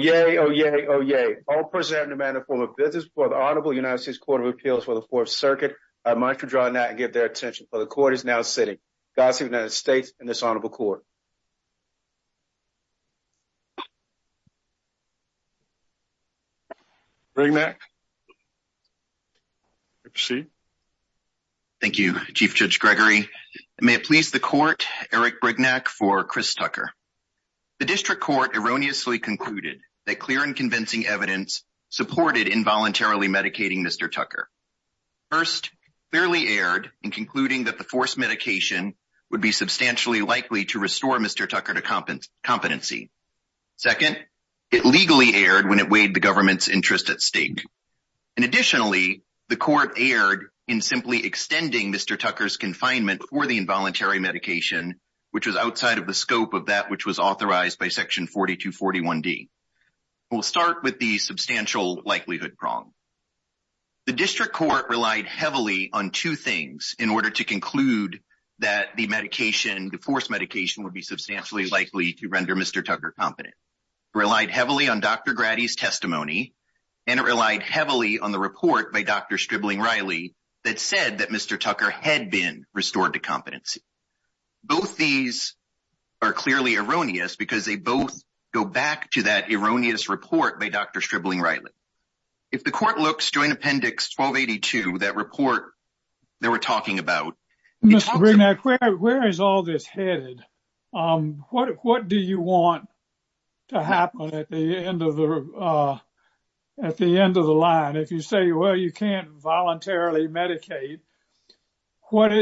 Oyez! Oyez! Oyez! All present in the manner of formal business before the Honorable United States Court of Appeals for the Fourth Circuit, I must withdraw now and give their attention, for the Court is now sitting. God save the United States and this Honorable Court. Brignac You may proceed. Thank you, Chief Judge Gregory. May it please the Court, Eric Brignac for Chris Tucker. The District Court erroneously concluded that clear and convincing evidence supported involuntarily medicating Mr. Tucker. First, clearly erred in concluding that the forced medication would be substantially likely to restore Mr. Tucker to competency. Second, it legally erred when it weighed the government's interest at stake. And additionally, the Court erred in simply extending Mr. Tucker's confinement for the involuntary medication, which was outside of the scope of that which was authorized by Section 4241D. We'll start with the substantial likelihood prong. The District Court relied heavily on two things in order to conclude that the medication, the forced medication would be substantially likely to render Mr. Tucker competent. It relied heavily on Dr. Grady's testimony, and it relied heavily on the report by Dr. Stribling-Riley that said that Mr. Tucker had been restored to competency. Both these are clearly erroneous because they both go back to that erroneous report by Dr. Stribling-Riley. If the Court looks to an Appendix 1282, that report they were talking about, Mr. Brignac, where is all this headed? What do you want to happen at the end of the line? If you say, well, you can't voluntarily medicate, what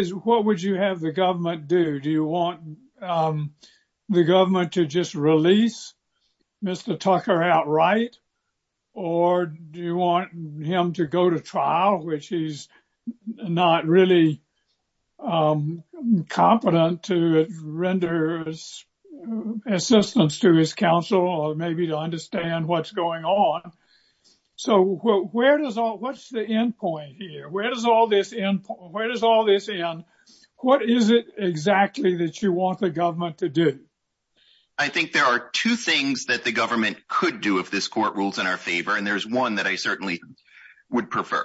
would you have the government do? Do you want the government to just release Mr. Tucker outright? Or do you want him to go to trial, which he's not really competent to render assistance to his counsel or maybe to understand what's going on? So what's the end point here? Where does all this end? What is it exactly that you want the government to do? I think there are two things that the government could do if this Court rules in our favor, and there's one that I certainly would prefer.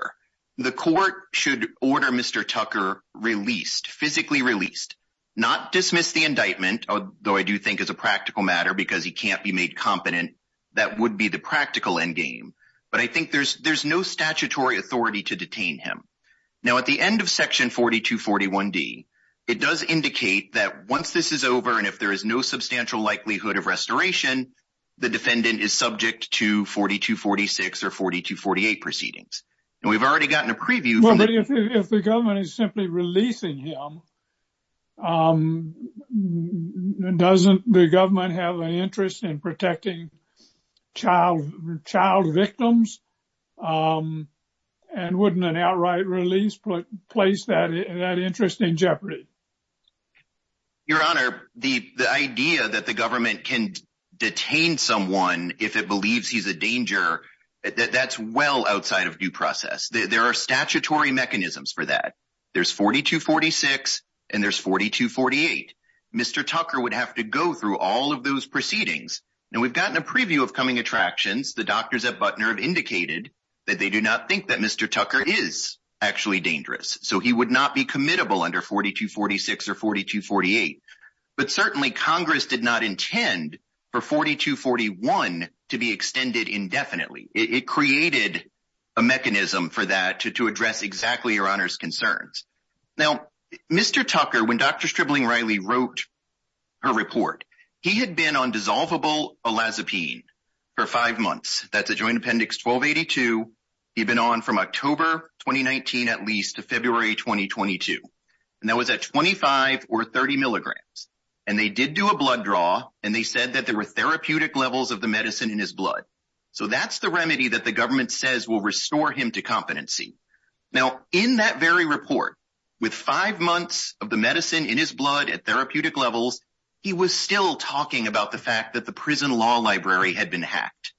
The Court should order Mr. Tucker released, physically released. Not dismiss the indictment, though I do think it's a practical matter because he can't be made competent. That would be the practical endgame. But I think there's no statutory authority to detain him. Now at the end of Section 4241D, it does indicate that once this is over and if there is no substantial likelihood of restoration, the defendant is subject to 4246 or 4248 proceedings. And we've already gotten a preview. If the government is simply releasing him, doesn't the government have an interest in protecting child victims? And wouldn't an outright release place that interest in jeopardy? Your Honor, the idea that the government can detain someone if it believes he's a danger, that's well outside of due process. There are statutory mechanisms for that. There's 4246 and there's 4248. Mr. Tucker would have to go through all of those proceedings. Now we've gotten a preview of coming attractions. The doctors at Butner have indicated that they do not think that Mr. Tucker is actually dangerous, so he would not be committable under 4246 or 4248. But certainly Congress did not intend for 4241 to be extended indefinitely. It created a mechanism for that to address exactly Your Honor's concerns. Now, Mr. Tucker, when Dr. Stripling Riley wrote her report, he had been on dissolvable olazapine for five months. That's a Joint Appendix 1282. He'd been on from October 2019 at least to February 2022. And that was at 25 or 30 milligrams. And they did do a blood draw and they said that there were therapeutic levels of the medicine in his blood. So that's the remedy that the government says will restore him to competency. Now, in that very report, with five months of the medicine in his blood at therapeutic levels, he was still talking about the fact that the prison law library had been hacked.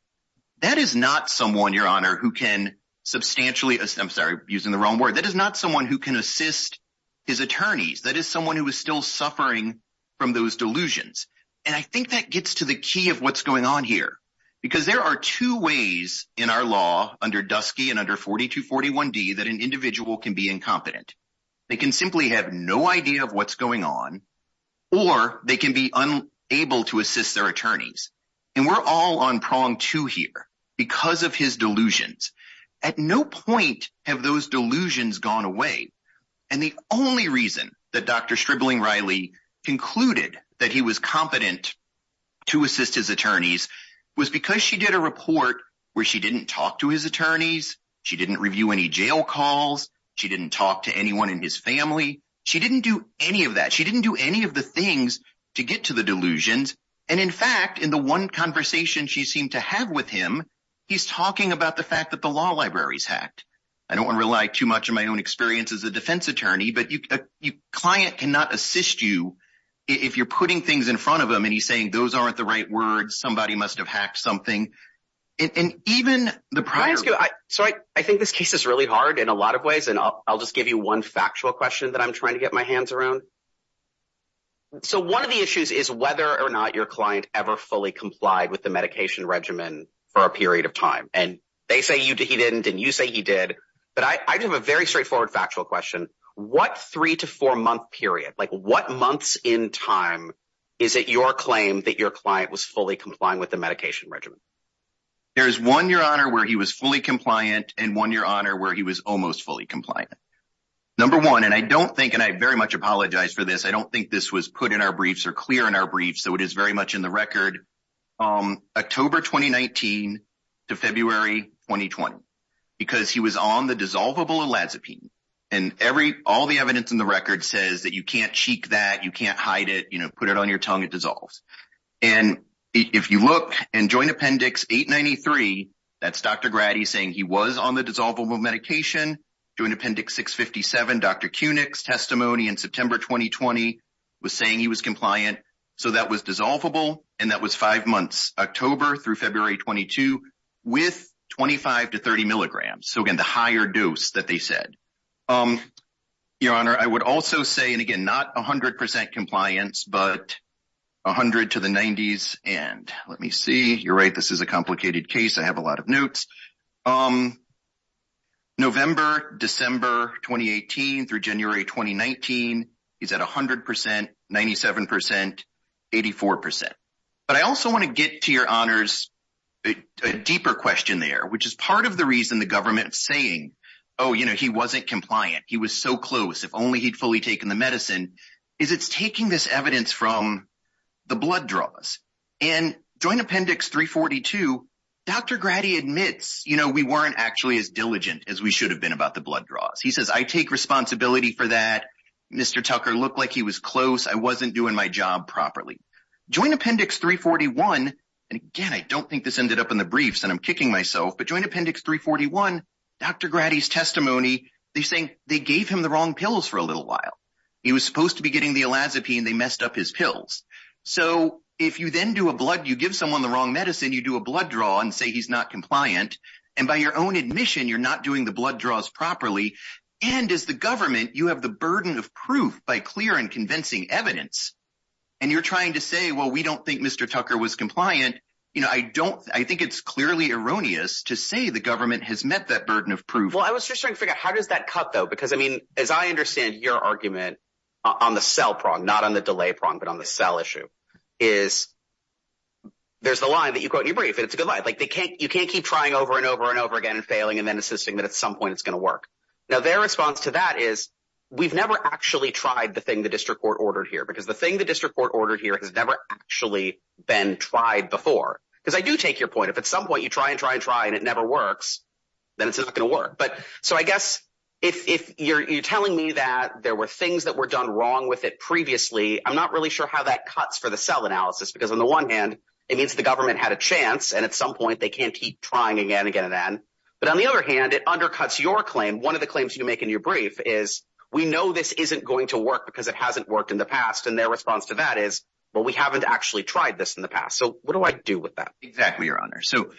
That is not someone, Your Honor, who can substantially, I'm sorry, using the wrong word, that is not someone who can assist his attorneys. That is someone who is still suffering from those delusions. And I think that gets to the key of what's going on here. Because there are two ways in our law under Dusky and under 4241D that an individual can be incompetent. They can simply have no idea of what's going on or they can be unable to assist their attorneys. And we're all on prong two here because of his delusions. At no point have those delusions gone away. And the only reason that Dr. Stripling Riley concluded that he was competent to assist his attorneys was because she did a report where she didn't talk to his attorneys. She didn't review any jail calls. She didn't talk to anyone in his family. She didn't do any of that. She didn't do any of the things to get to the delusions. And in fact, in the one conversation she seemed to have with him, he's talking about the fact that the law library's hacked. I don't want to rely too much on my own experience as a defense attorney. But a client cannot assist you if you're putting things in front of them and he's saying those aren't the right words. Somebody must have hacked something. And even the prior... So I think this case is really hard in a lot of ways. And I'll just give you one factual question that I'm trying to get my hands around. So one of the issues is whether or not your client ever fully complied with the medication regimen for a period of time. And they say he didn't and you say he did. But I have a very straightforward factual question. What three to four month period, like what months in time is it your claim that your client was fully complying with the medication regimen? There is one year honor where he was fully compliant and one year honor where he was almost fully compliant. Number one, and I don't think, and I very much apologize for this, I don't think this was put in our briefs or clear in our briefs. So it is very much in the record. October 2019 to February 2020. Because he was on the dissolvable elazapine. And all the evidence in the record says that you can't cheek that, you can't hide it, put it on your tongue, it dissolves. And if you look in Joint Appendix 893, that's Dr. Grady saying he was on the dissolvable medication. Joint Appendix 657, Dr. Kunick's testimony in September 2020 was saying he was compliant. So that was dissolvable. And that was five months, October through February 22, with 25 to 30 milligrams. So again, the higher dose that they said. Your Honor, I would also say, and again, not 100% compliance, but 100 to the 90s. And let me see, you're right, this is a complicated case. I have a lot of notes. November, December 2018 through January 2019, he's at 100%, 97%, 84%. But I also want to get to your honors, a deeper question there, which is part of the reason the government is saying, oh, you know, he wasn't compliant. He was so close, if only he'd fully taken the medicine. Is it's taking this evidence from the blood draws. And Joint Appendix 342, Dr. Grady admits, you know, we weren't actually as diligent as we should have been about the blood draws. He says, I take responsibility for that. Mr. Tucker looked like he was close. I wasn't doing my job properly. Joint Appendix 341, and again, I don't think this ended up in the briefs and I'm kicking myself. But Joint Appendix 341, Dr. Grady's testimony, they're saying they gave him the wrong pills for a little while. He was supposed to be getting the elazapine. They messed up his pills. So if you then do a blood, you give someone the wrong medicine, you do a blood draw and say he's not compliant. And by your own admission, you're not doing the blood draws properly. And as the government, you have the burden of proof by clear and convincing evidence. And you're trying to say, well, we don't think Mr. Tucker was compliant. You know, I don't, I think it's clearly erroneous to say the government has met that burden of proof. Well, I was just trying to figure out how does that cut, though? Because, I mean, as I understand your argument on the cell prong, not on the delay prong, but on the cell issue, is there's the line that you quote in your brief, and it's a good line. You can't keep trying over and over and over again and failing and then assisting that at some point it's going to work. Now, their response to that is we've never actually tried the thing the district court ordered here because the thing the district court ordered here has never actually been tried before. Because I do take your point. If at some point you try and try and try and it never works, then it's not going to work. But so I guess if you're telling me that there were things that were done wrong with it previously, I'm not really sure how that cuts for the cell analysis. Because on the one hand, it means the government had a chance. And at some point they can't keep trying again and again and again. But on the other hand, it undercuts your claim. One of the claims you make in your brief is we know this isn't going to work because it hasn't worked in the past. And their response to that is, well, we haven't actually tried this in the past. So what do I do with that? Exactly, Your Honor. So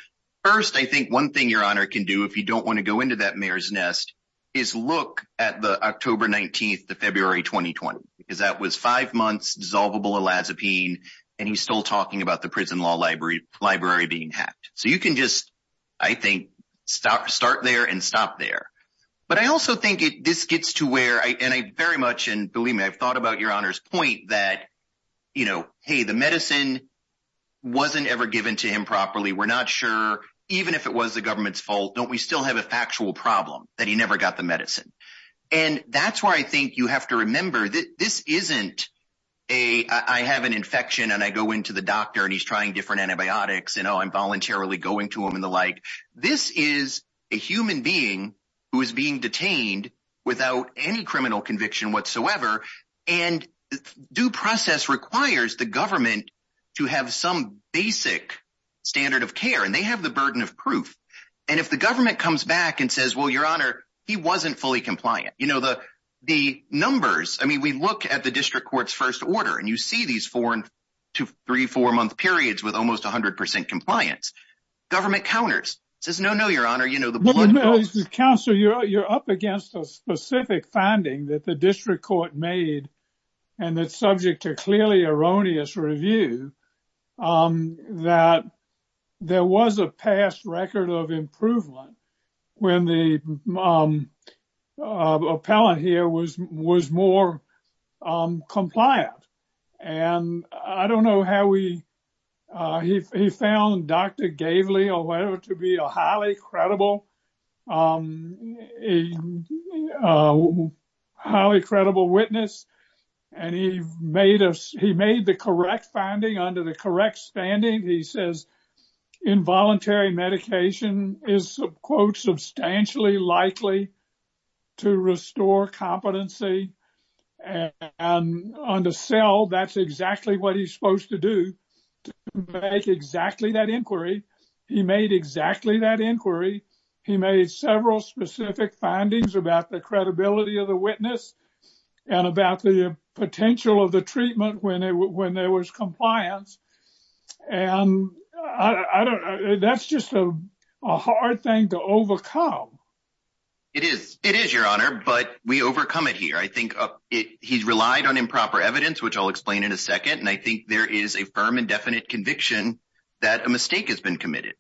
first, I think one thing Your Honor can do, if you don't want to go into that mayor's nest, is look at the October 19th to February 2020. Because that was five months dissolvable elazapine. And he's still talking about the prison law library being hacked. So you can just, I think, start there and stop there. But I also think this gets to where, and I very much, and believe me, I've thought about Your Honor's point that, you know, hey, the medicine wasn't ever given to him properly. I'm not sure, even if it was the government's fault, don't we still have a factual problem that he never got the medicine? And that's where I think you have to remember that this isn't a, I have an infection and I go into the doctor and he's trying different antibiotics and I'm voluntarily going to him and the like. This is a human being who is being detained without any criminal conviction whatsoever. And due process requires the government to have some basic standard of care. And they have the burden of proof. And if the government comes back and says, well, Your Honor, he wasn't fully compliant. You know, the numbers, I mean, we look at the district court's first order and you see these four to three, four month periods with almost 100% compliance. Government counters, says, no, no, Your Honor. Counselor, you're up against a specific finding that the district court made and it's subject to clearly erroneous review that there was a past record of improvement when the appellant here was more compliant. And I don't know how we, he found Dr. Gaveley or whatever to be a highly credible witness. And he made the correct finding under the correct standing. He says involuntary medication is quote, substantially likely to restore competency. And on the cell, that's exactly what he's supposed to do to make exactly that inquiry. He made exactly that inquiry. He made several specific findings about the credibility of the witness and about the potential of the treatment when there was compliance. It is, it is, Your Honor, but we overcome it here. I think he's relied on improper evidence, which I'll explain in a second. And I think there is a firm and definite conviction that a mistake has been committed.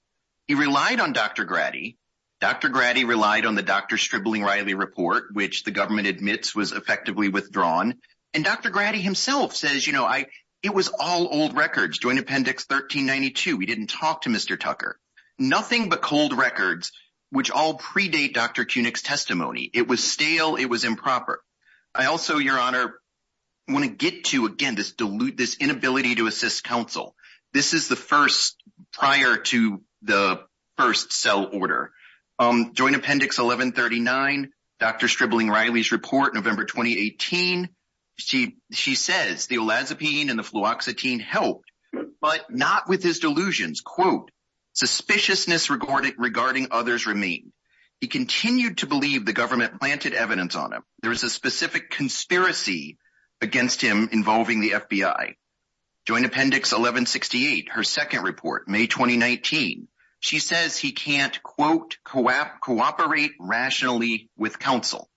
He relied on Dr. Grady. Dr. Grady relied on the Dr. Stribling-Riley report, which the government admits was effectively withdrawn. And Dr. Grady himself says, you know, it was all old records. Joint Appendix 1392, we didn't talk to Mr. Tucker. Nothing but cold records, which all predate Dr. Koenig's testimony. It was stale. It was improper. I also, Your Honor, want to get to, again, this dilute, this inability to assist counsel. This is the first prior to the first cell order. Joint Appendix 1139, Dr. Stribling-Riley's report, November 2018. She says the olazapine and the fluoxetine helped, but not with his delusions. Quote, suspiciousness regarding others remain. He continued to believe the government planted evidence on him. There was a specific conspiracy against him involving the FBI. Joint Appendix 1168, her second report, May 2019. She says he can't, quote, cooperate rationally with counsel.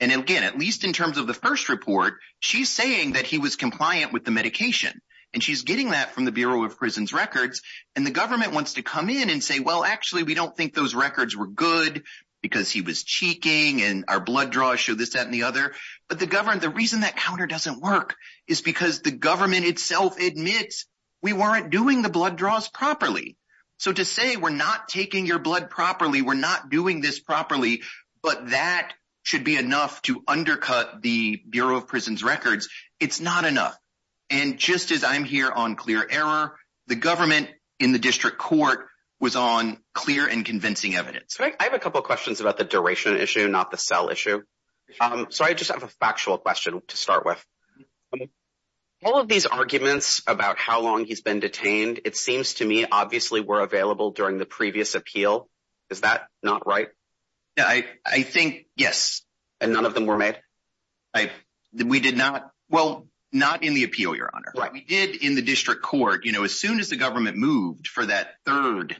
And again, at least in terms of the first report, she's saying that he was compliant with the medication. And she's getting that from the Bureau of Prisons Records. And the government wants to come in and say, well, actually, we don't think those records were good because he was cheeking and our blood draws show this, that, and the other. But the reason that counter doesn't work is because the government itself admits we weren't doing the blood draws properly. So to say we're not taking your blood properly, we're not doing this properly, but that should be enough to undercut the Bureau of Prisons Records, it's not enough. And just as I'm here on clear error, the government in the district court was on clear and convincing evidence. I have a couple of questions about the duration issue, not the cell issue. So I just have a factual question to start with. All of these arguments about how long he's been detained, it seems to me obviously were available during the previous appeal. Is that not right? I think, yes. And none of them were made? We did not. Well, not in the appeal, Your Honor. We did in the district court. As soon as the government moved for that third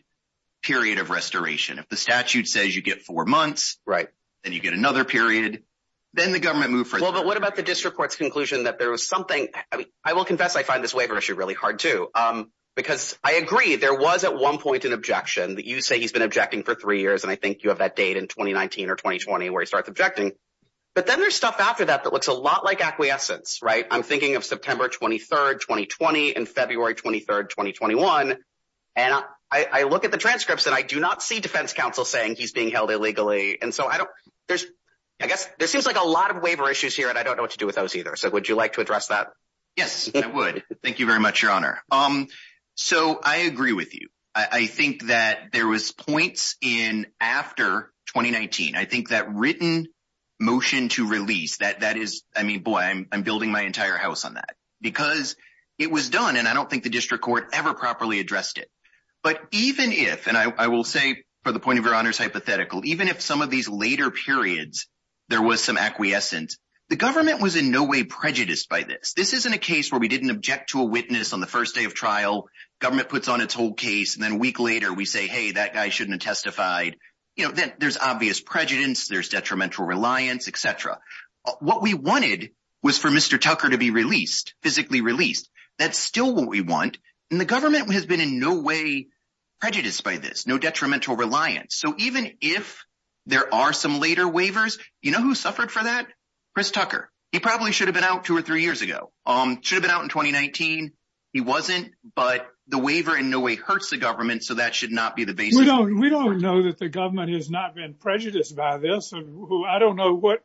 period of restoration, if the statute says you get four months, then you get another period, then the government moved for that. Well, but what about the district court's conclusion that there was something, I will confess I find this waiver issue really hard too, because I agree there was at one point an objection that you say he's been objecting for three years and I think you have that date in 2019 or 2020 where he starts objecting. But then there's stuff after that that looks a lot like acquiescence, right? I'm thinking of September 23, 2020 and February 23, 2021. And I look at the transcripts and I do not see defense counsel saying he's being held illegally. And so I guess there seems like a lot of waiver issues here and I don't know what to do with those either. So would you like to address that? Yes, I would. Thank you very much, Your Honor. So I agree with you. I think that there was points in after 2019. I think that written motion to release, that is, I mean, boy, I'm building my entire house on that because it was done and I don't think the district court ever properly addressed it. But even if, and I will say for the point of Your Honor's hypothetical, even if some of these later periods there was some acquiescence, the government was in no way prejudiced by this. This isn't a case where we didn't object to a witness on the first day of trial. Government puts on its whole case and then a week later we say, hey, that guy shouldn't have testified. You know, there's obvious prejudice, there's detrimental reliance, et cetera. What we wanted was for Mr. Tucker to be released, physically released. That's still what we want. And the government has been in no way prejudiced by this, no detrimental reliance. So even if there are some later waivers, you know who suffered for that? Chris Tucker. He probably should have been out two or three years ago. Should have been out in 2019. He wasn't, but the waiver in no way hurts the government, so that should not be the basis. We don't know that the government has not been prejudiced by this. I don't know what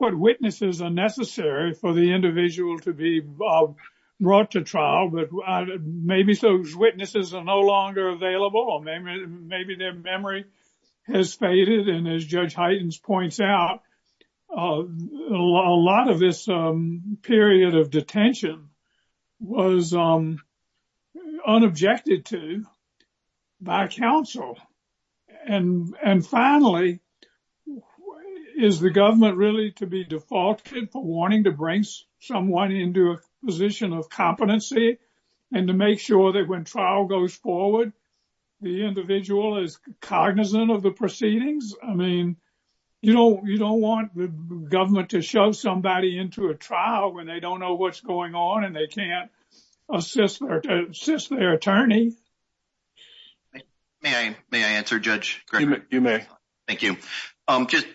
witnesses are necessary for the individual to be brought to trial, but maybe those witnesses are no longer available, or maybe their memory has faded. And as Judge Heitens points out, a lot of this period of detention was unobjected to by counsel. And finally, is the government really to be defaulted for wanting to bring someone into a position of competency and to make sure that when trial goes forward, the individual is cognizant of the proceedings? I mean, you don't want the government to shove somebody into a trial when they don't know what's going on and they can't assist their attorney. May I answer, Judge Greger? You may. Thank you.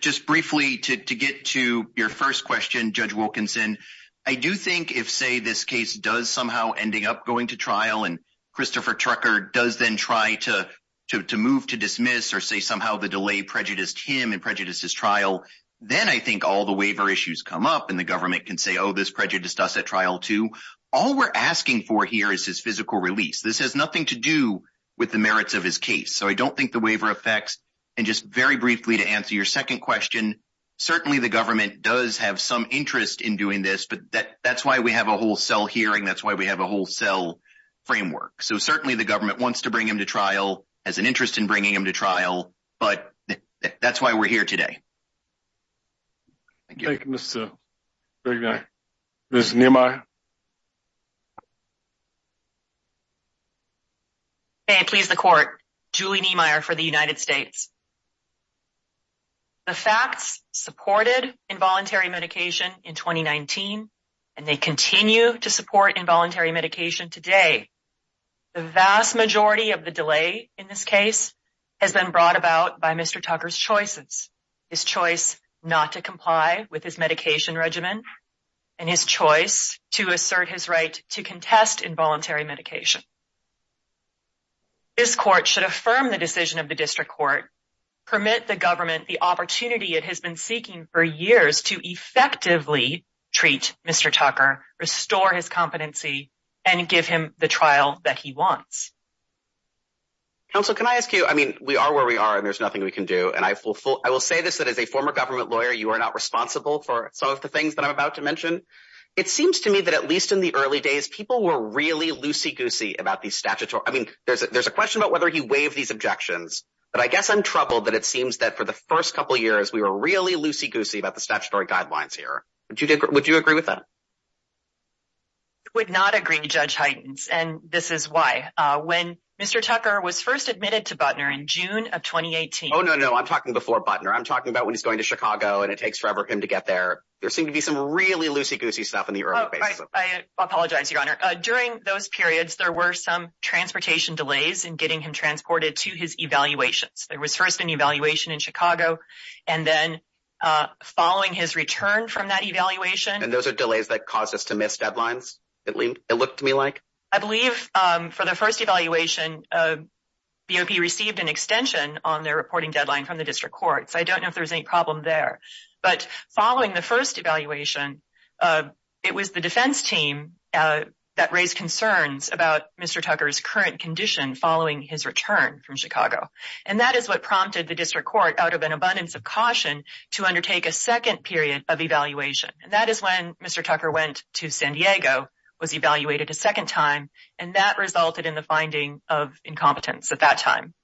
Just briefly, to get to your first question, Judge Wilkinson, I do think if, say, this case does somehow ending up going to trial and Christopher Trucker does then try to move to dismiss or say somehow the delay prejudiced him and prejudiced his trial, then I think all the waiver issues come up and the government can say, oh, this prejudiced us at trial too. All we're asking for here is his physical release. It has nothing to do with the merits of his case. So I don't think the waiver affects. And just very briefly to answer your second question, certainly the government does have some interest in doing this, but that's why we have a wholesale hearing. That's why we have a wholesale framework. So certainly the government wants to bring him to trial, has an interest in bringing him to trial, but that's why we're here today. Thank you. Thank you, Mr. Greger. Ms. Nehemiah? Okay, please, the court. Julie Nehemiah for the United States. The facts supported involuntary medication in 2019 and they continue to support involuntary medication today. The vast majority of the delay in this case has been brought about by Mr. Tucker's choices, his choice not to comply with his medication regimen and his choice to assert his right to contest involuntary medication. This court should affirm the decision of the district court, permit the government the opportunity it has been seeking for years to effectively treat Mr. Tucker, restore his competency, and give him the trial that he wants. Counsel, can I ask you, I mean, we are where we are and there's nothing we can do. And I will say this, that as a former government lawyer, you are not responsible for some of the things that I'm about to mention. It seems to me that at least in the early days, these people were really loosey-goosey about these statutory, I mean, there's a question about whether he waived these objections, but I guess I'm troubled that it seems that for the first couple of years, we were really loosey-goosey about the statutory guidelines here. Would you agree with that? I would not agree, Judge Heitens, and this is why. When Mr. Tucker was first admitted to Butner in June of 2018... Oh, no, no, no, I'm talking before Butner. I'm talking about when he's going to Chicago and it takes forever for him to get there. There seemed to be some really loosey-goosey stuff about Butner. During those periods, there were some transportation delays in getting him transported to his evaluations. There was first an evaluation in Chicago, and then following his return from that evaluation... And those are delays that caused us to miss deadlines, it looked to me like? I believe for the first evaluation, BOP received an extension on their reporting deadline from the district courts. I don't know if there was any problem there. But following the first evaluation, it was the defense team, that raised concerns about Mr. Tucker's current condition following his return from Chicago. And that is what prompted the district court, out of an abundance of caution, to undertake a second period of evaluation. And that is when Mr. Tucker went to San Diego, was evaluated a second time, and that resulted in the finding of incompetence at that time,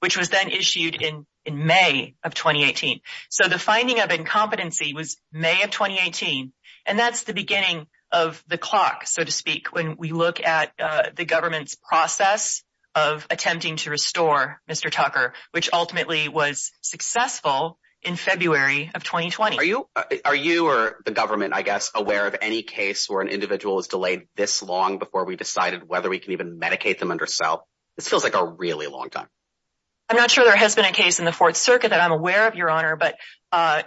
which was then issued in May of 2018. So the finding of incompetency was May of 2018, and that's the beginning of the clock, so to speak, when we look at the government's process of attempting to restore Mr. Tucker, which ultimately was successful in February of 2020. Are you, or the government, I guess, aware of any case where an individual is delayed this long before we decided whether we can even medicate them under SELP? This feels like a really long time. I'm not sure there has been a case in the Fourth Circuit that I'm aware of, Your Honor, but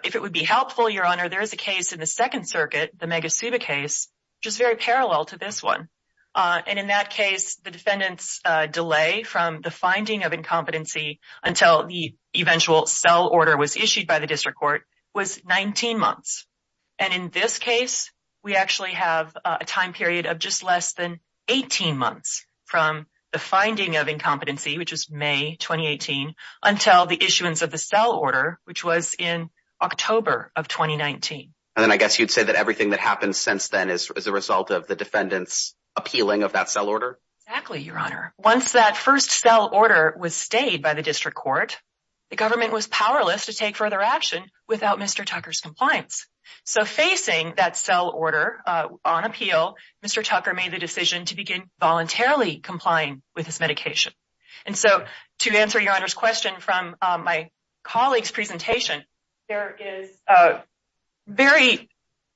if it would be helpful, Your Honor, there is a case in the Second Circuit, the Megasuba case, which is very parallel to this one. And in that case, the defendant's delay from the finding of incompetency until the eventual SELP order was issued by the district court was 19 months. And in this case, we actually have a time period of just less than 18 months from the finding of incompetency, which was May 2018, until the issuance of the SELP order, which was in October of 2019. And then I guess you'd say that everything that happened since then is a result of the defendant's appealing of that SELP order? Exactly, Your Honor. Once that first SELP order was stayed by the district court, the government was powerless to take further action without Mr. Tucker's compliance. So facing that SELP order on appeal, Mr. Tucker made the decision to begin voluntarily complying with his medication. And so, to answer Your Honor's question from my colleague's presentation, there is very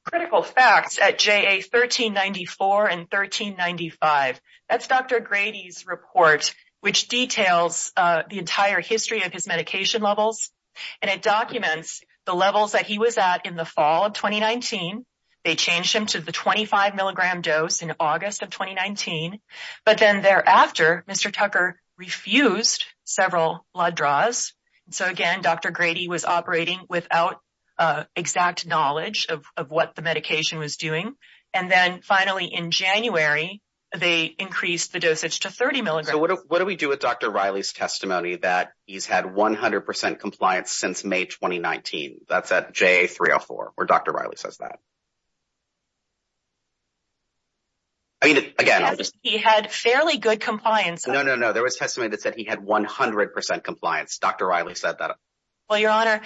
critical facts at JA 1394 and 1395. That's Dr. Grady's report, which details the entire history of his medication levels. And it documents the levels that he was at in the fall of 2019. They changed him to the 25 milligram dose in August of 2019. But then thereafter, Mr. Tucker refused several blood draws. So again, Dr. Grady was operating without exact knowledge of what the medication was doing. And then finally, in January, they increased the dosage to 30 milligrams. So what do we do with Dr. Riley's testimony that he's had 100% compliance since May 2019? That's at JA 304, where Dr. Riley says that. I mean, again, I'll just... He had fairly good compliance. No, no, no. There was testimony that said that he had 100% compliance. Dr. Riley said that. Well, Your Honor,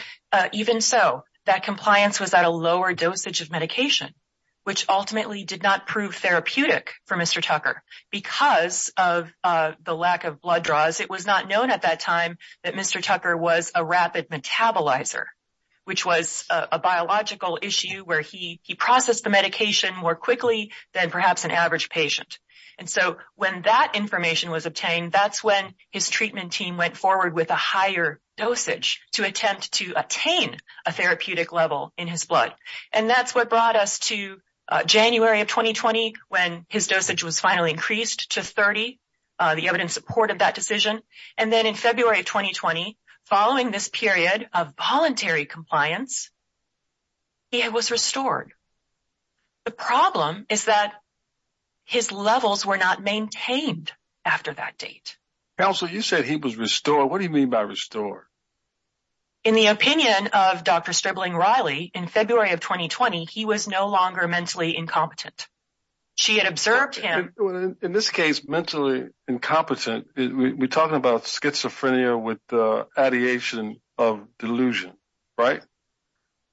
even so, that compliance was at a lower dosage of medication, which ultimately did not prove therapeutic for Mr. Tucker. Because of the lack of blood draws, it was not known at that time that Mr. Tucker was a rapid metabolizer, which was a biological issue where he processed the medication more quickly than perhaps an average patient. And so when that information was obtained, that's when his treatment team went forward with a higher dosage to attempt to attain a therapeutic level in his blood. And that's what brought us to January of 2020, when his dosage was finally increased to 30. The evidence supported that decision. And then in February of 2020, following this period of voluntary compliance, he was restored. The problem is that his levels were not maintained after that date. Counsel, you said he was restored. What do you mean by restored? In the opinion of Dr. Stripling Riley, in February of 2020, he was no longer mentally incompetent. She had observed him. In this case, mentally incompetent, we're talking about schizophrenia with the ideation of delusion, right?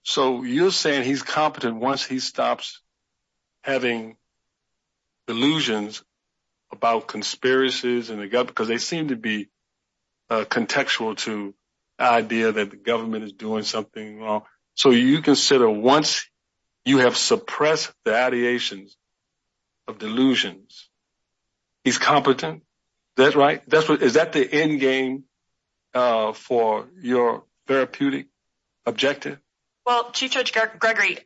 So you're saying he's competent once he stops having delusions about conspiracies and the government, because they seem to be contextual to the idea that the government is doing something wrong. So you consider once you have suppressed the ideations of delusions, he's competent? Is that right? Is that the end game for your therapeutic objective? Well, Chief Judge Gregory,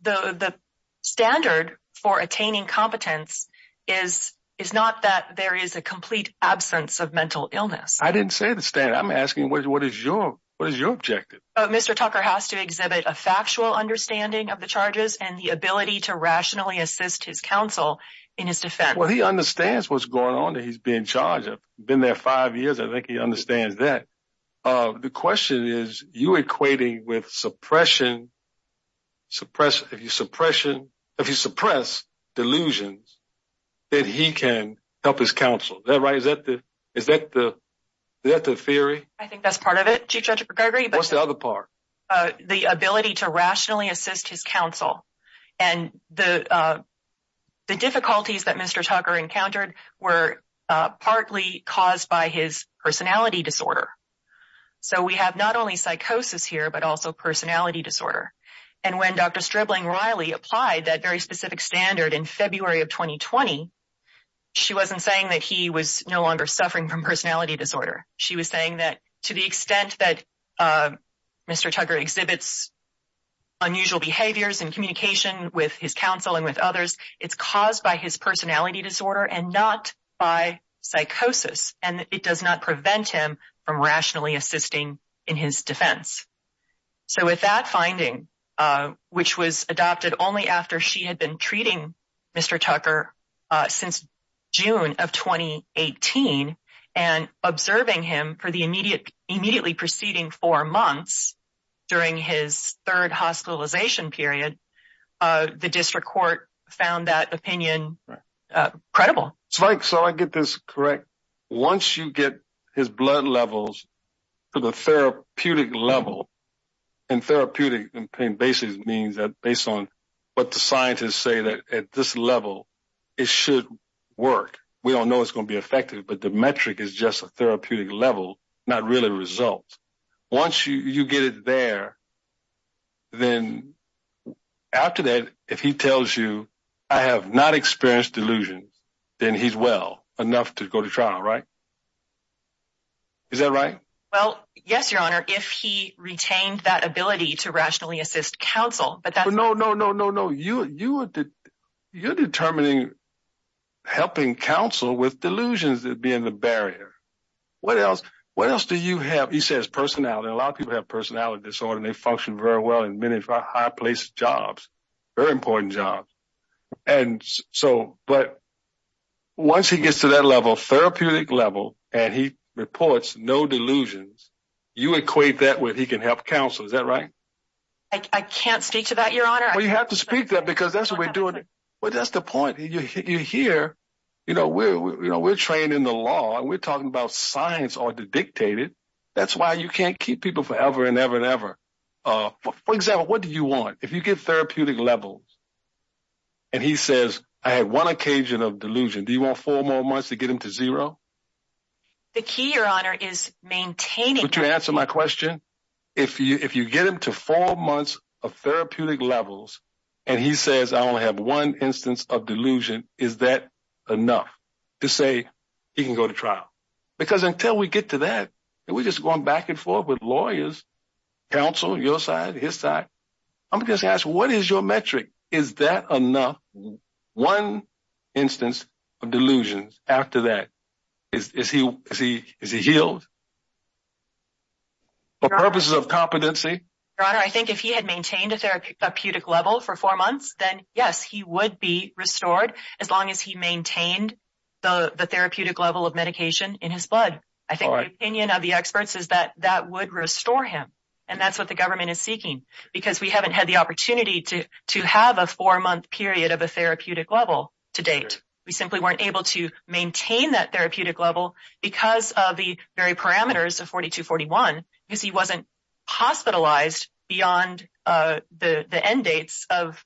the standard for attaining competence is not that there is a complete absence of mental illness. I didn't say the standard. I'm asking what is your objective? Mr. Tucker has to exhibit a factual understanding of the charges and the ability to rationally assist his counsel in his defense. Well, he understands what's going on that he's being charged. I've been there five years. I think he understands that. The question is, are you equating with suppression? If you suppress delusions, then he can help his counsel. Is that right? Is that the theory? I think that's part of it, Chief Judge Gregory. What's the other part? The ability to rationally assist his counsel. And the difficulties that Mr. Tucker encountered were partly caused by his personality disorder. So we have not only psychosis here, but also personality disorder. And when Dr. Stripling-Riley applied that very specific standard in February of 2020, she wasn't saying that he was no longer suffering from personality disorder. She was saying that to the extent that Mr. Tucker exhibits unusual behaviors and communication with his counsel and with others, it's caused by his personality disorder and not by psychosis. And it does not prevent him from rationally assisting in his defense. So with that finding, which was adopted only after she had been treating Mr. Tucker since June of 2018 and observing him for the immediately preceding four months during his third hospitalization period, the district court found that opinion credible. So I get this correct. Once you get his blood levels to the therapeutic level, and therapeutic basically means that based on what the scientists say that at this level, it should work. We don't know it's going to be effective, but the metric is just a therapeutic level, not really results. Once you get it there, then after that, if he tells you, I have not experienced delusions, then he's well enough to go to trial, right? Is that right? Well, yes, Your Honor. If he retained that ability to rationally assist counsel, but that's... No, no, no, no, no. You're determining, helping counsel with delusions that being the barrier. What else do you have? He says personality. A lot of people have personality disorder and they function very well in many high placed jobs, very important jobs. But once he gets to that level, therapeutic level, and he reports no delusions, you equate that with he can help counsel. Is that right? I can't speak to that, Your Honor. Well, you have to speak to that because that's what we're doing. Well, that's the point. We're trained in the law and we're talking about science or dictated. That's why you can't keep people forever and ever and ever. If you get him to therapeutic levels and he says, I had one occasion of delusion. Do you want four more months to get him to zero? The key, Your Honor, is maintaining... Would you answer my question? If you get him to four months of therapeutic levels and he says I only have one instance of delusion, is that enough to say he can go to trial? Because until we get to that, we're just going back and forth with lawyers, counsel, Is that metric? Is that enough? One instance of delusions after that, is he healed? For purposes of competency? Your Honor, I think if he had maintained a therapeutic level for four months, then yes, he would be restored as long as he maintained the therapeutic level of medication in his blood. I think the opinion of the experts is that that would restore him. And that's what the government is seeking because we haven't had the opportunity to have a four-month period of a therapeutic level to date. We simply weren't able to maintain that therapeutic level because of the very parameters of 4241 because he wasn't hospitalized beyond the end dates of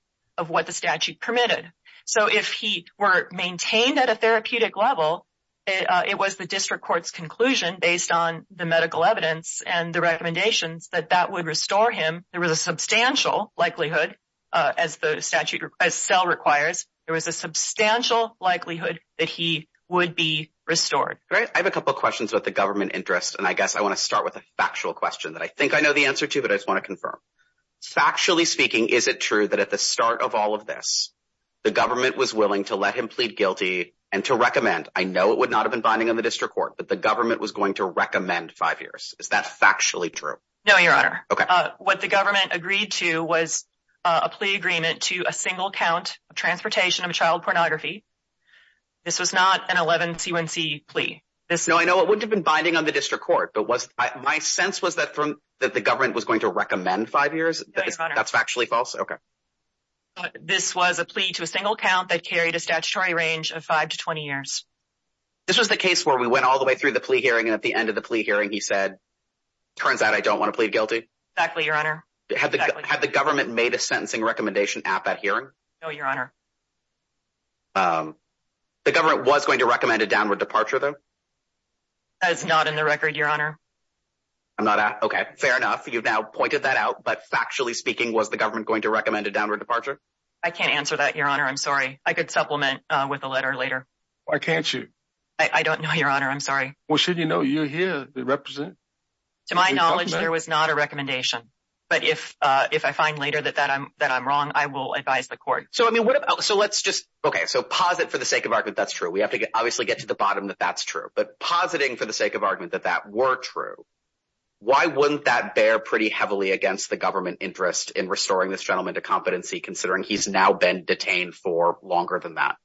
what the statute permitted. So if he were maintained at a therapeutic level, it was the district court's conclusion based on the medical evidence and the recommendations that that would restore him. There was a substantial likelihood as the statute requires, there was a substantial likelihood that he would be restored. Great. I have a couple of questions about the government interest. And I guess I want to start with a factual question that I think I know the answer to, but I just want to confirm. Factually speaking, is it true that at the start of all of this, the government was willing to let him plead guilty and to recommend? I know it would not have been binding on the district court, but the government was going to recommend five years. Is that factually true? No, Your Honor. What the government agreed to was a plea agreement to a single count of transportation of child pornography. This was not an 11C1C plea. No, I know it wouldn't have been binding on the district court, but it was a plea to a single count that carried a statutory range of five to 20 years. This was the case where we went all the way through the plea hearing and at the end of the plea hearing, he said, turns out I don't want to plead guilty. Exactly, Your Honor. Had the government made a sentencing recommendation at that hearing? No, Your Honor. The government was going to recommend a downward departure, though? That is not in the record, Your Honor. Okay. Fair enough. You've now pointed that out, but factually speaking, was the government going to recommend a downward departure? I can't answer that, Your Honor. I'm sorry. I could supplement with a letter later. Why can't you? I don't know, Your Honor. I'm sorry. Well, shouldn't you know? You're here to represent. To my knowledge, there was not a recommendation, but if I find later that I'm wrong, I will advise the court. Okay, so pause it for the sake of argument that's true. We have to obviously get to the bottom that that's true. But pausing for the sake of argument that that were true, why wouldn't that bear pretty heavily against the government interest in restoring this gentleman to competency considering he's now been detained for longer than that?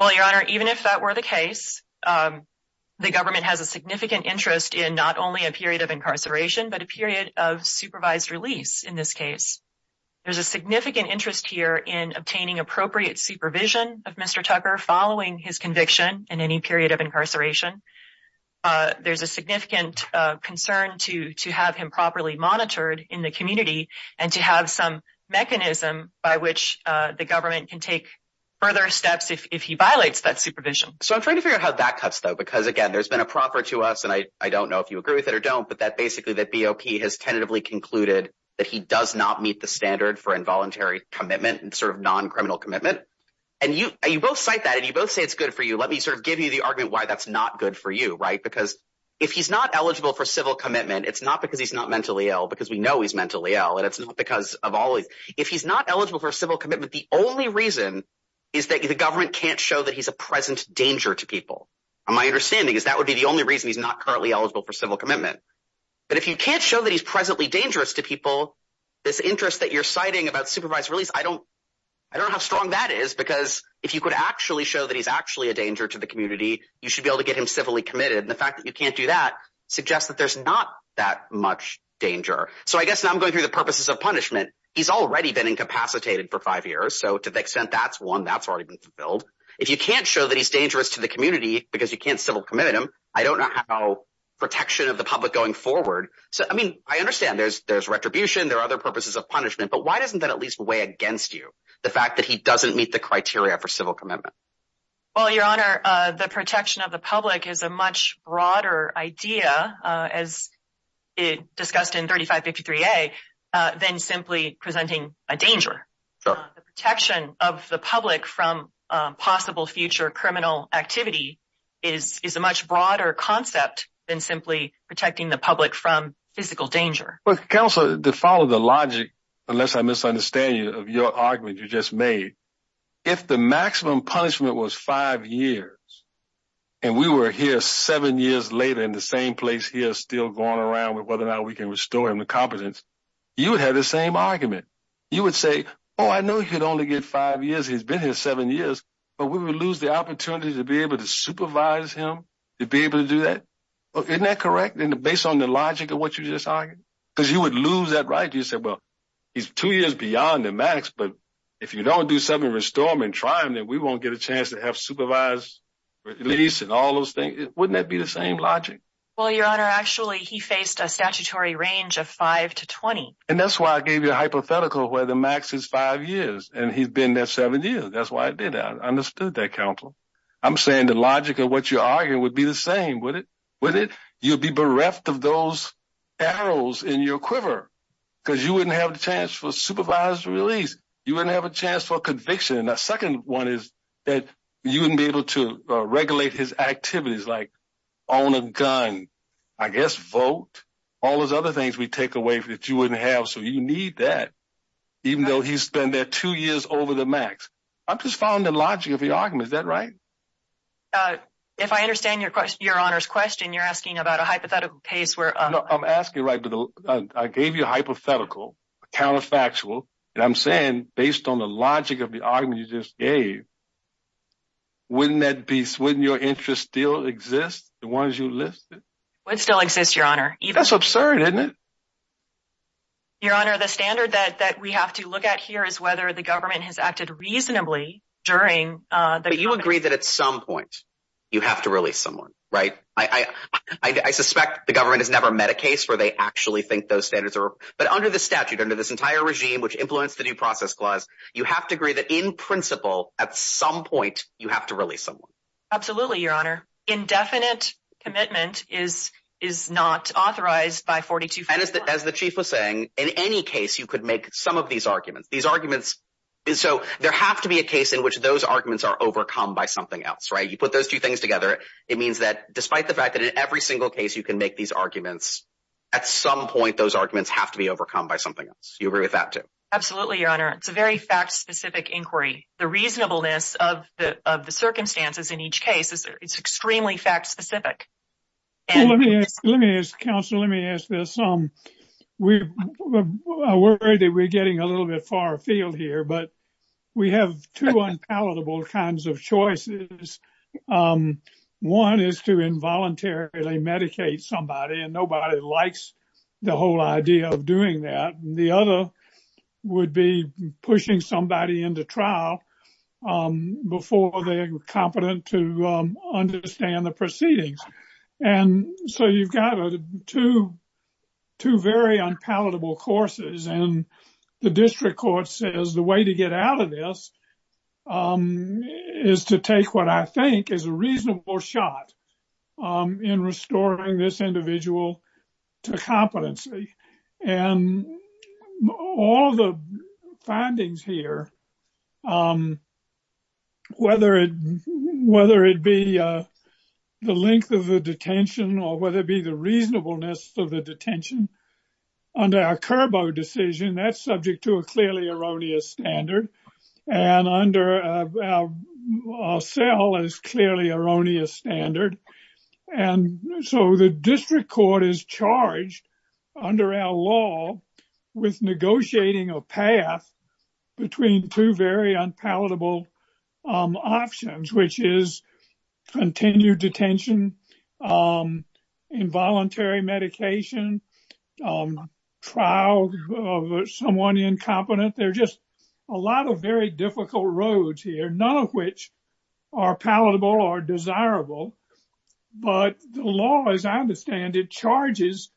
Well, Your Honor, even if that were the case, the government has a significant interest in not only a period of incarceration, but a period of supervised release in this case. There's a significant interest here in obtaining appropriate supervision of Mr. Tucker following his conviction in any period of incarceration. There's a significant concern to have him properly monitored in the community and to have some mechanism by which the government can take further steps if he violates that supervision. So I'm trying to figure out how that cuts, though, because again, there's been a proffer to us, and I don't know if you agree with it or don't, but that basically that BOP has tentatively concluded that he does not meet the standard for involuntary commitment and sort of non-criminal commitment. And you both cite that, and you both say it's good for you. Let me sort of give you the argument why that's not good for you, right? Because if he's not eligible for civil commitment, it's not because he's not mentally ill, because we know he's mentally ill, and it's not because of all... If he's not eligible for civil commitment, the only reason is that the government can't show that he's a present danger to people. And my understanding is that would be the only reason he's not currently eligible for civil commitment. But if you can't show that he's presently dangerous to people, this interest that you're citing about supervised release, I don't have strong values on what that is, because if you could actually show that he's actually a danger to the community, you should be able to get him civilly committed. And the fact that you can't do that suggests that there's not that much danger. So I guess now I'm going through the purposes of punishment. He's already been incapacitated for five years, so to the extent that's one, that's already been fulfilled. If you can't show that he's dangerous to the community because you can't civil commit him, I don't know how protection of the public going forward... I mean, I understand there's retribution, there are other purposes of punishment, but why doesn't that at least weigh against you? The fact that he doesn't meet the criteria for civil commitment. Well, Your Honor, the protection of the public is a much broader idea, as discussed in 3553A, than simply presenting a danger. Sure. The protection of the public from possible future criminal activity is a much broader concept than simply protecting the public from physical danger. Well, Counselor, to follow the logic, unless I misunderstand you, of your argument you just made, if the maximum punishment was five years and we were here seven years later in the same place he is still going around with whether or not we can restore him to competence, you would have the same argument. You would say, oh, I know he could only get five years, he's been here seven years, but we would lose the opportunity to be able to supervise him, to be able to do that. Isn't that correct? Based on the logic of what you just argued? Because you would lose that right. You'd say, well, he's two years beyond the max, but if you don't do something to restore him and try him, then we won't get a chance to have supervised release and all those things. Wouldn't that be the same logic? Well, Your Honor, actually, he faced a statutory range of five to 20. And that's why I gave you a hypothetical where the max is five years, and he's been there seven years. That's why I did that. I understood that, Counselor. I'm saying the logic of what you're arguing would be the same, would it? Would it? You'd be bereft of those arrows in your quiver because you wouldn't have the chance for supervised release. You wouldn't have a chance for conviction. And the second one is that you wouldn't be able to regulate his activities like own a gun, I guess vote, all those other things we take away that you wouldn't have, so you need that, even though he's been there two years over the max. I'm just following the logic of your argument. Is that right? If I understand Your Honor's question, you're asking about a hypothetical case where... No, I'm asking, right, I gave you a hypothetical, a counterfactual, and I'm saying, based on the logic of the argument you just gave, wouldn't that be... Wouldn't your interest still exist, the ones you listed? Would still exist, Your Honor. That's absurd, isn't it? Your Honor, the standard that we have to look at here is whether the government has acted reasonably during the... But you agree that at some point you have to release someone, right? I suspect the government has never met a case where they actually think those standards are... But under the statute, under this entire regime which influenced the Due Process Clause, you have to agree that, in principle, at some point, you have to release someone. Absolutely, Your Honor. Indefinite commitment is not authorized by 42... And as the Chief was saying, in any case, you could make some of these arguments. These arguments... So there has to be a case in which those arguments are overcome by something else, right? You put those two things together, it means that, despite the fact that in every single case you can make these arguments, at some point, those arguments have to be overcome by something else. You agree with that, too? Absolutely, Your Honor. It's a very fact-specific inquiry. The reasonableness of the circumstances in each case is extremely fact-specific. Let me ask... Let me ask... Counselor, let me ask this. I'm worried that we're getting a little bit far afield here, but we have two unpalatable kinds of choices. One is to involuntarily medicate somebody, and nobody likes the whole idea of doing that. The other would be pushing somebody into trial before they're competent to understand the proceedings. And so you've got two very unpalatable courses, and the district court says the way to get out of this is to take what I think is a reasonable shot in restoring this individual to competency. And all the findings here, whether it be the length of the detention or whether it be the reasonableness of the detention, under our Curbo decision, that's subject to a clearly erroneous standard, and under our cell is clearly erroneous standard. And so the district court is charged under our law with negotiating a path between two very unpalatable options, which is continued detention, involuntary medication, trial of someone incompetent. There's just a lot of very difficult roads here, none of which are palatable or desirable. But the law, as I understand it, charges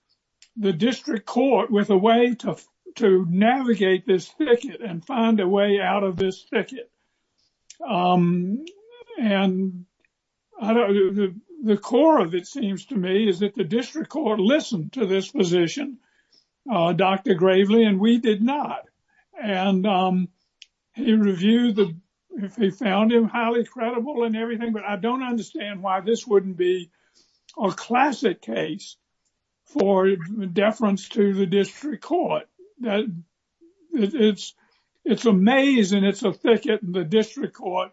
the district court with a way to navigate this thicket and find a way out of this thicket. And the core of it seems to me is that the district court listened to this position, Dr. Gravely, and we did not. And he reviewed the, he found him highly credible and everything, but I don't understand why this wouldn't be a classic case for deference to the district court. It's a maze and it's a thicket in the district court.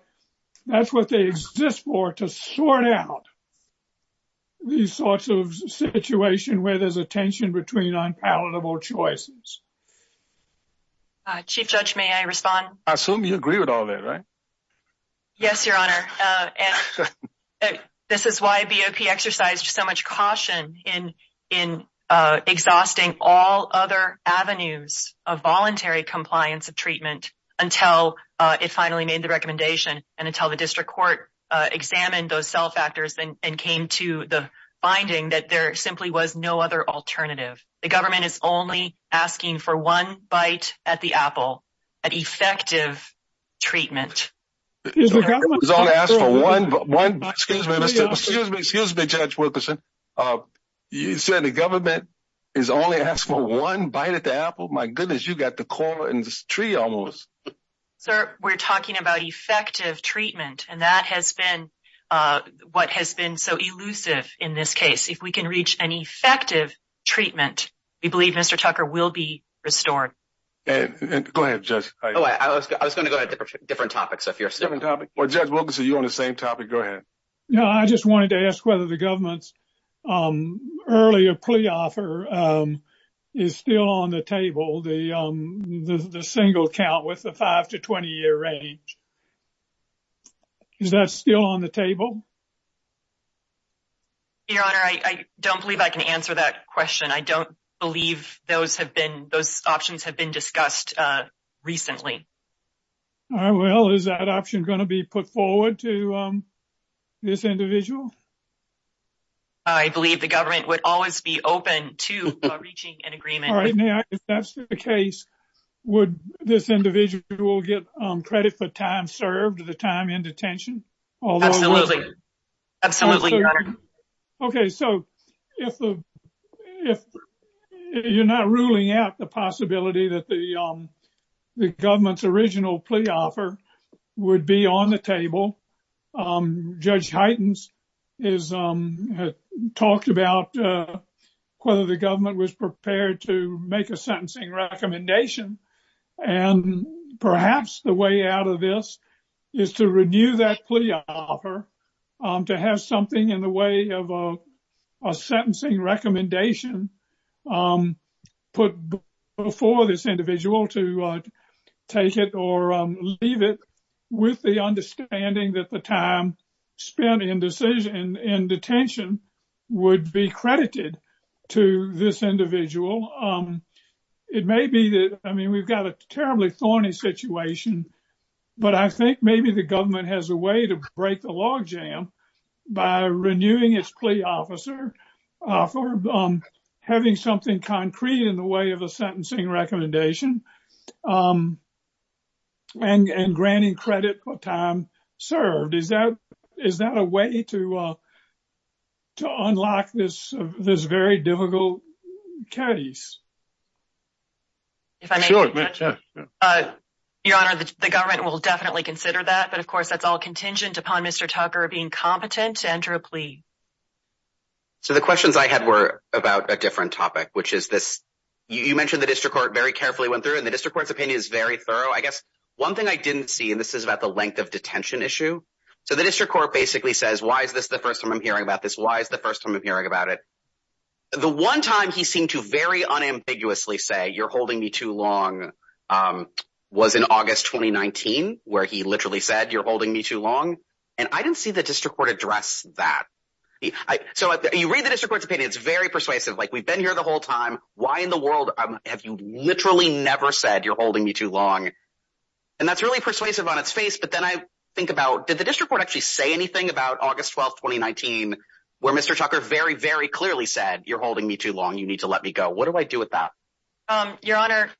That's what they exist for, to sort out these sorts of situation where there's a tension between unpalatable choices. Chief Judge, may I respond? I assume you agree with all that, right? Yes, Your Honor. This is why BOP exercised so much caution in exhausting all other avenues of voluntary compliance of treatment until it finally made the recommendation and until the district court examined those cell factors and came to the finding that there simply was no other alternative. The government is only asking for one bite at the apple, an effective treatment. Excuse me, Judge Wilkerson. You said the government is only asking for one bite at the apple? My goodness, you got the core in this tree almost. Sir, we're talking about effective treatment and that has been what has been so elusive in this case. If we can reach an effective treatment, we believe Mr. Tucker will be restored. Go ahead, Judge. I was going to go to different topics. Judge Wilkerson, you're on the same topic. Go ahead. I just wanted to ask whether the government's earlier plea offer is still on the table, the single count with the five to 20 year age. Is that still on the table? Your Honor, I don't believe I can answer that question. I don't believe those have been, those options have been discussed recently. All right, well, is that option going to be put forward to this individual? I believe the government would always be open to reaching an agreement. All right, now, if that's the case, would this individual get credit for time served, the time in detention? Absolutely. Absolutely, Your Honor. Okay, so if the, if you're not ruling out the possibility that the government's original plea offer would be on the table, Judge Heitens has talked about whether the government was prepared to make a sentencing recommendation and perhaps the way out of this is to renew that plea offer to have something in the way of a sentencing recommendation put before this individual to take it or leave it with the understanding that the time spent in decision, in detention would be credited to this individual. It may be that, I mean, we've got a terribly thorny situation, but I think maybe the government has a way to break the log jam by renewing its plea offer for having something concrete in the way of a sentencing recommendation and granting credit for time served. Is that a way to unlock this very difficult case? If I may, Your Honor, the government will definitely consider that, but of course that's all contingent upon Mr. Tucker being competent to enter a plea. So the questions I had were about a different topic, which is this, you mentioned the district court very carefully went through it and the district court's opinion is very thorough. I guess one thing I didn't see, and this is about the length of detention issue. So the district court basically says, why is this the first time I'm hearing about this? Why is the first time I'm hearing about it? The one time he seemed to very unambiguously say, you're holding me too long was in August, 2019, where he literally said, you're holding me too long. And I didn't see the district court address that. So you read the district court's opinion, it's very persuasive. Like we've been here the whole time. Why in the world have you literally never said you're holding me too long? And that's really persuasive on its face. But then I think about, did the district court actually say anything about August 12th, 2019, where Mr. Tucker very, very clearly said, you're holding me too long, you need to let me go. What do I do with that? Your Honor,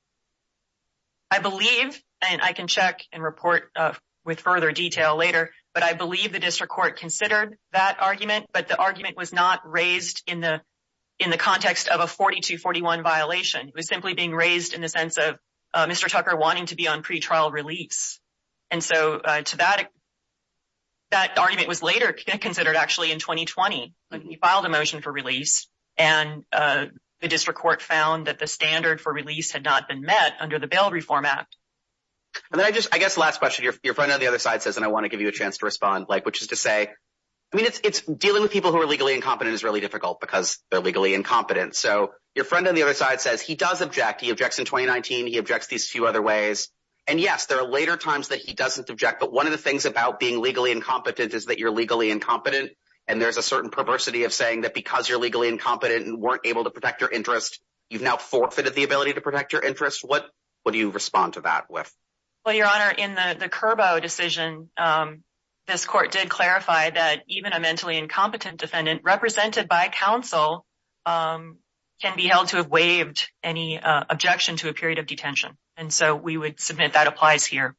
I believe, and I can check and report with further detail later, but I believe the district court considered that argument, but the argument was not raised in the context of a 42-41 violation. It was simply being raised in the sense of Mr. Tucker wanting to be on pretrial release. And so to that, that argument was later considered actually in 2020, when he filed a motion for release and the district court found that the standard for release had not been met under the Bail Reform Act. And then I just, I guess the last question, your friend on the other side says, and I want to give you a chance to respond, like, which is to say, I mean, it's dealing with people who are legally incompetent is really difficult because they're legally incompetent. So your friend on the other side says, he does object. He objects in 2019. He objects these few other ways. And yes, there are later times that he doesn't object, but one of the things about being legally incompetent is that you're legally incompetent. And there's a certain perversity of saying that because you're legally incompetent and weren't able to protect your interest, you've now forfeited the ability to protect your interest. What do you respond to that with? Well, your Honor, in the Curbo decision, this court did clarify that even a mentally incompetent defendant represented by counsel can be held to have waived any objection to a period of detention. And so we would submit that applies here.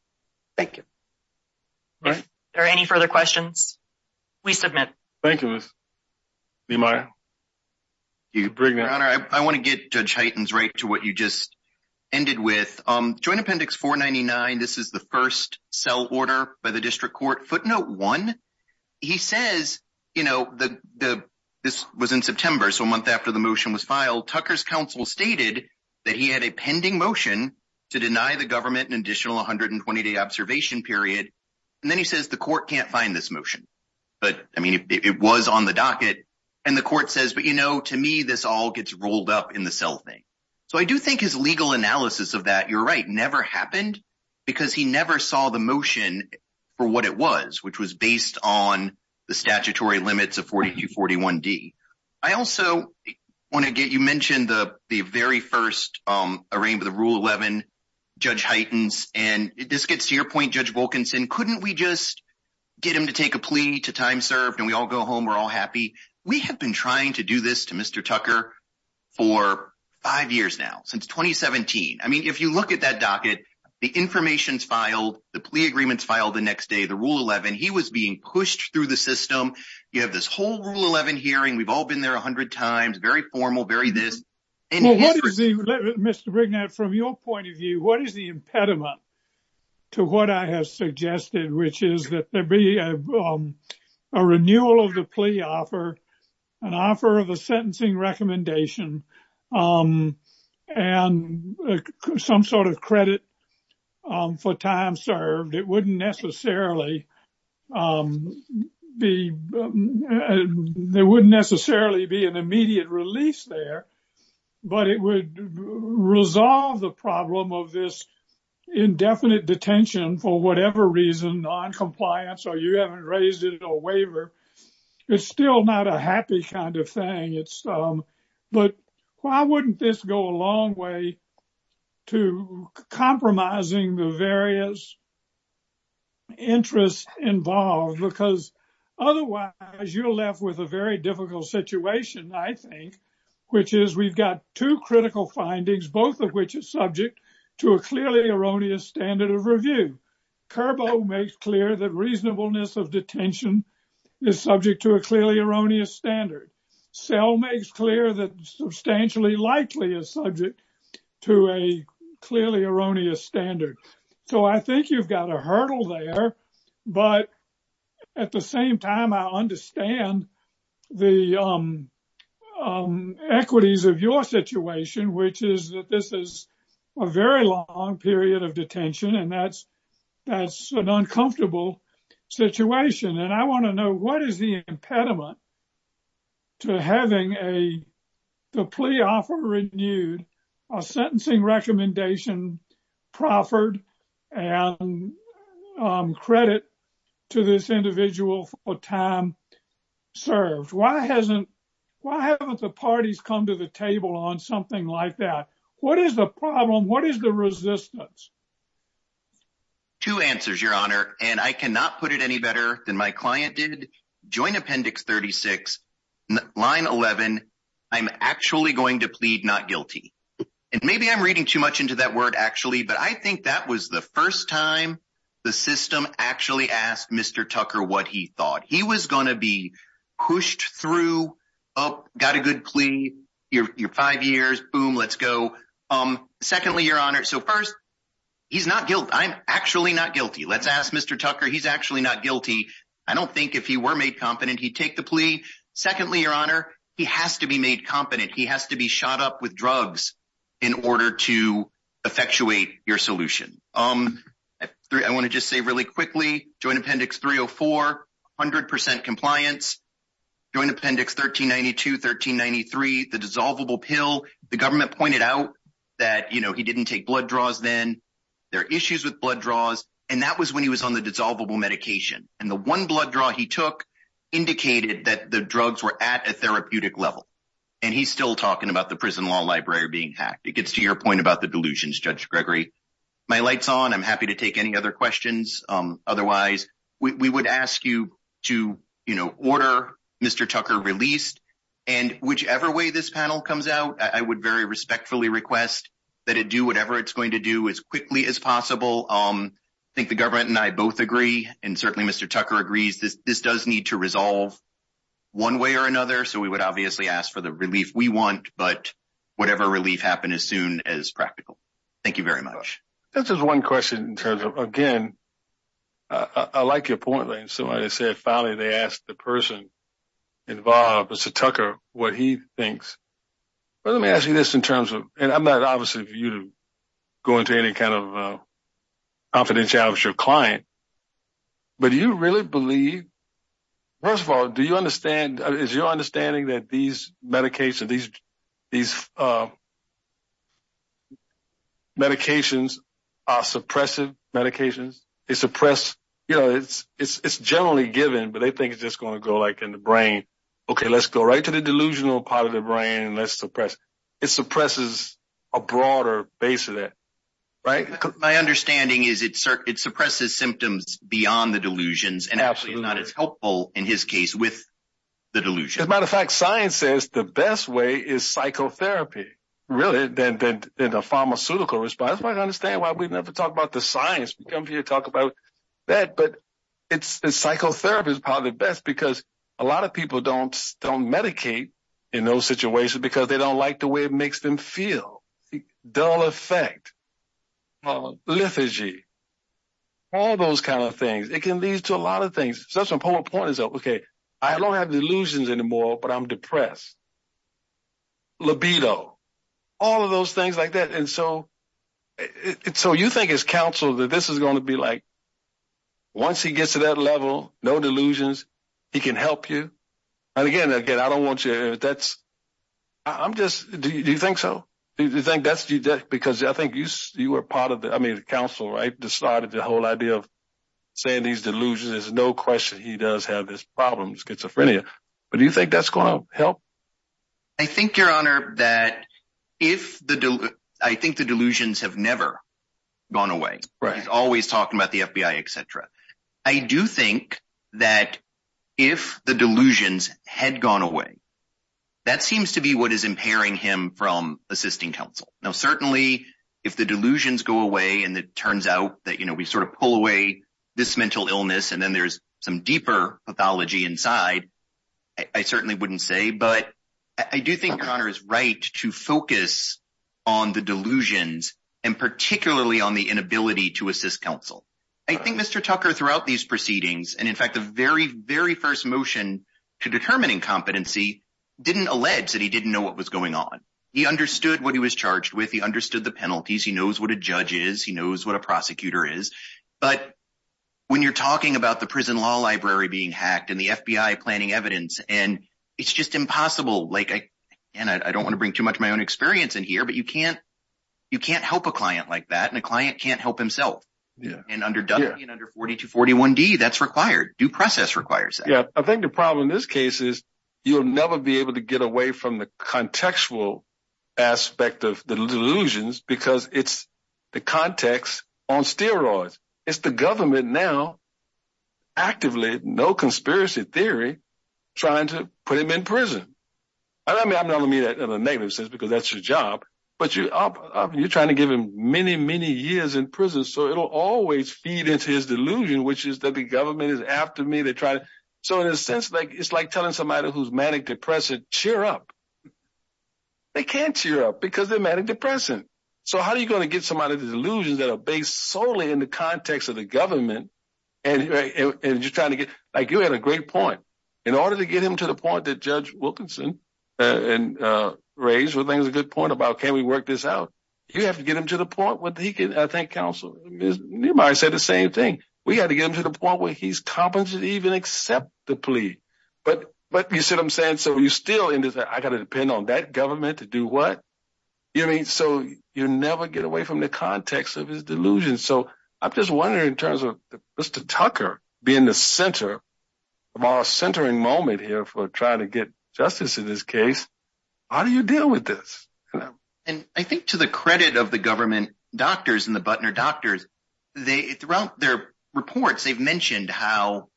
Thank you. All right. Are there any further questions? We submit. Thank you, Ms. Niemeyer. Your Honor, I want to get Judge Heightens right to what you just ended with. Joint Appendix 499, this is the first cell order by the district court. Footnote one, he says, you know, this was in September, so a month after the motion was filed, Tucker's counsel stated that he had a pending motion to deny the government an additional 120-day observation period. And then he says the court can't find this motion. But I mean, it was on the docket. And the court says, but you know, to me, this all gets rolled up in the cell thing. So I do think his legal analysis of that, you're right, never happened because he never saw the motion for what it was, which was based on the statutory limits of 4241D. I also want to get, you mentioned the very first arraignment of the Rule 11, Judge Heightens, and this gets to your point, Judge Wilkinson, couldn't we just get him to take a plea to time served and we all go home, we're all happy. We have been trying to do this to Mr. Tucker for five years now, since 2017. I mean, if you look at that docket, the information's filed, the plea agreement's filed the next day, the Rule 11, he was being pushed through the system. You have this whole Rule 11 hearing. We've all been there a hundred times, very formal, very this. Well, Mr. Brignard, from your point of view, what is the impediment to what I have suggested, which is that there be a renewal of the plea offer, an offer of a sentencing recommendation, and some sort of credit for time served. It wouldn't necessarily be an immediate release there, but it would resolve the problem of this indefinite detention for whatever reason, noncompliance, or you haven't raised it, or a waiver. It's still not a happy kind of thing. But why wouldn't this go a long way to compromising the various interests involved? Because otherwise, you're left with a very difficult situation, I think, which is we've got two critical findings, both of which are subject to a clearly erroneous standard of review. Curbo makes clear that reasonableness of detention is subject to a clearly erroneous standard. Sell makes clear that substantially likely is subject to a clearly erroneous standard. So I think you've got a hurdle there, but at the same time, I understand the equities of your situation, which is that this is a very long period of detention, and that's an uncomfortable situation. And I want to know, what is the impediment to having the plea offer renewed, a sentencing recommendation proffered, and credit to this individual for time served? Why haven't the parties come to the table on something like that? What is the problem? What is the resistance? Two answers, Your Honor, and I cannot put it any better than my client did. Joint Appendix 36, line 11, I'm actually going to plead not guilty. And maybe I'm reading too much into that word, actually, but I think that was the first time the system actually asked Mr. Tucker what he thought. He was going to be pushed through, oh, got a good plea, you're five years, boom, let's go. Secondly, Your Honor, so first, he's not guilty. I'm actually not guilty. Let's ask Mr. Tucker, he's actually not guilty. I don't think if he were made competent, he'd take the plea. Secondly, Your Honor, he has to be made competent. He has to be shot up with drugs in order to effectuate your solution. I want to just say really quickly, Joint Appendix 304, 100% compliance, Joint Appendix 1392, 1393, the dissolvable pill, the government pointed out that he didn't take blood draws then, there are issues with blood draws, and that was when he was on the dissolvable medication. And the one blood draw he took indicated that the drugs were at a therapeutic level. And he's still talking about the prison law library being hacked. It gets to your point about the delusions, Judge Gregory. My light's on. I'm happy to take any other questions. Otherwise, we would ask you to order Mr. Tucker released. And whichever way this panel comes out, I would very respectfully request that it do whatever it's going to do as quickly as possible. I think the government and I both agree, and certainly Mr. Tucker agrees, this does need to resolve one way or another, so we would obviously ask for the relief we want, but whatever relief happens as soon as practical. Thank you very much. That's just one question in terms of, again, I like your point, like somebody said, finally they asked the person involved, Mr. Tucker, what he thinks. Let me ask you this in terms of, and I'm not obviously for you to go into any kind of confidentiality with your client, but do you really believe, first of all, do you understand, is your understanding that these medications, these medications are suppressive medications? They suppress, it's generally given, but they think it's just going to go like in the brain. Okay, let's go right to the delusional part of the brain, and let's suppress. It suppresses a broader base of that, right? My understanding is it suppresses symptoms beyond the delusions, and actually is not as helpful, in his case, with the delusions. As a matter of fact, science says the best way is psychotherapy, really, than the pharmaceutical response. That's why I don't understand why we never talk about the science. We come here to talk about that, but psychotherapy is probably the best because a lot of people don't medicate in those situations because they don't like the way it makes them feel. Dull effect, lethargy, all those kind of things. It can lead to a lot of things. Such a poor point is, okay, I don't have delusions anymore, but I'm depressed. Libido, all of those things like that, and so you think as counsel that this is going to be like, once he gets to that level, no delusions, he can help you, and again, I don't want you to, that's, I'm just, do you think so? Do you think that's, because I think you were part of the, I mean the counsel, right, decided the whole idea of saying these delusions, there's no question he does have this problem, schizophrenia, but do you think that's going to help? I think, Your Honor, that if the delusions, I think the delusions have never gone away. He's always talking about the FBI, etc. I do think that if the delusions had gone away, that seems to be what is impairing him from assisting counsel. Now certainly, if the delusions go away, and it turns out that, you know, we sort of pull away this mental illness, and then there's some deeper pathology inside, I certainly wouldn't say, but I do think Your Honor is right to focus on the delusions, and particularly on the inability to assist counsel. I think Mr. Tucker, throughout these proceedings, and in fact, the very, very first motion to determining competency didn't allege that he didn't know what was going on. He understood what he was charged with. He understood the penalties. He knows what a judge is. He knows what a prosecutor is. But when you're talking about the prison law library being hacked and the FBI planning evidence, and it's just impossible, like, and I don't want to bring too much of my own experience in here, but you can't help a client like that, and a client can't help himself. And under Duffy and under 4241D, that's required. Due process requires that. Yeah. I think the problem in this case is you'll never be able to get away from the contextual aspect of the delusions because it's the context on steroids. It's the government now, actively, no conspiracy theory, trying to put him in prison. I don't mean that in a negative sense because that's your job, but you're trying to give him many, many years in prison, so it'll always feed into his delusion, which is that the government is after me. So in a sense, it's like telling somebody who's manic-depressant, cheer up. They can't cheer up because they're manic-depressant. So how are you going to get somebody with delusions that are based solely in the context of the government and you're trying to get, like, you had a great point. In order to get him to the point that Judge Wilkinson raised, which I think is a good point about can we work this out, you have to get him to the point where he can thank counsel. Nehemiah said the same thing. We have to get him to the point where he's competent to even accept the plea. But you see what I'm saying? So you're still in this, I got to depend on that government to do what? So you never get away from the context of his delusion. So I'm just wondering in terms of Mr. Tucker being the center of our centering moment here for trying to get justice in this case, how do you deal with this? And I think to the credit of the government doctors and the Butner doctors, throughout their reports, they've mentioned how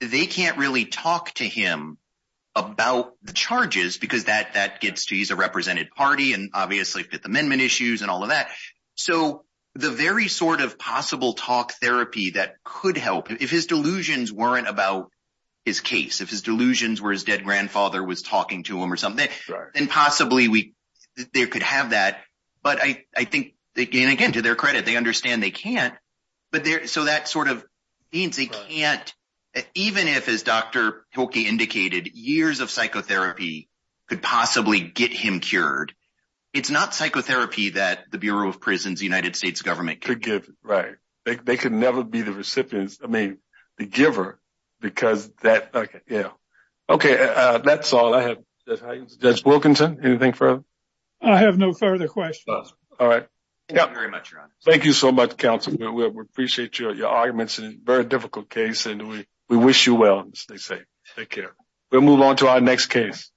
they can't really talk to him about the charges because that gets to, he's a represented party and obviously Fifth Amendment issues and all of that. So the very sort of possible talk therapy that could help, if his delusions weren't about his case, if his delusions were his dead grandfather was talking to him or something, then possibly they could have that. But I think, and again, to their credit, they understand they can't. So that sort of means they can't, even if as Dr. Hilke indicated, years of psychotherapy could possibly get him cured. It's not psychotherapy that the Bureau of Prisons, the United States government could give. Right. They could never be the recipients, I mean, the giver, because that, yeah. Okay, that's all I have. Judge Wilkinson, anything further? I have no further questions. All right. Thank you very much, Your Honor. Thank you so much, counsel. We appreciate your arguments. It's a very difficult case and we wish you well and stay safe. Take care. We'll move on to our next case.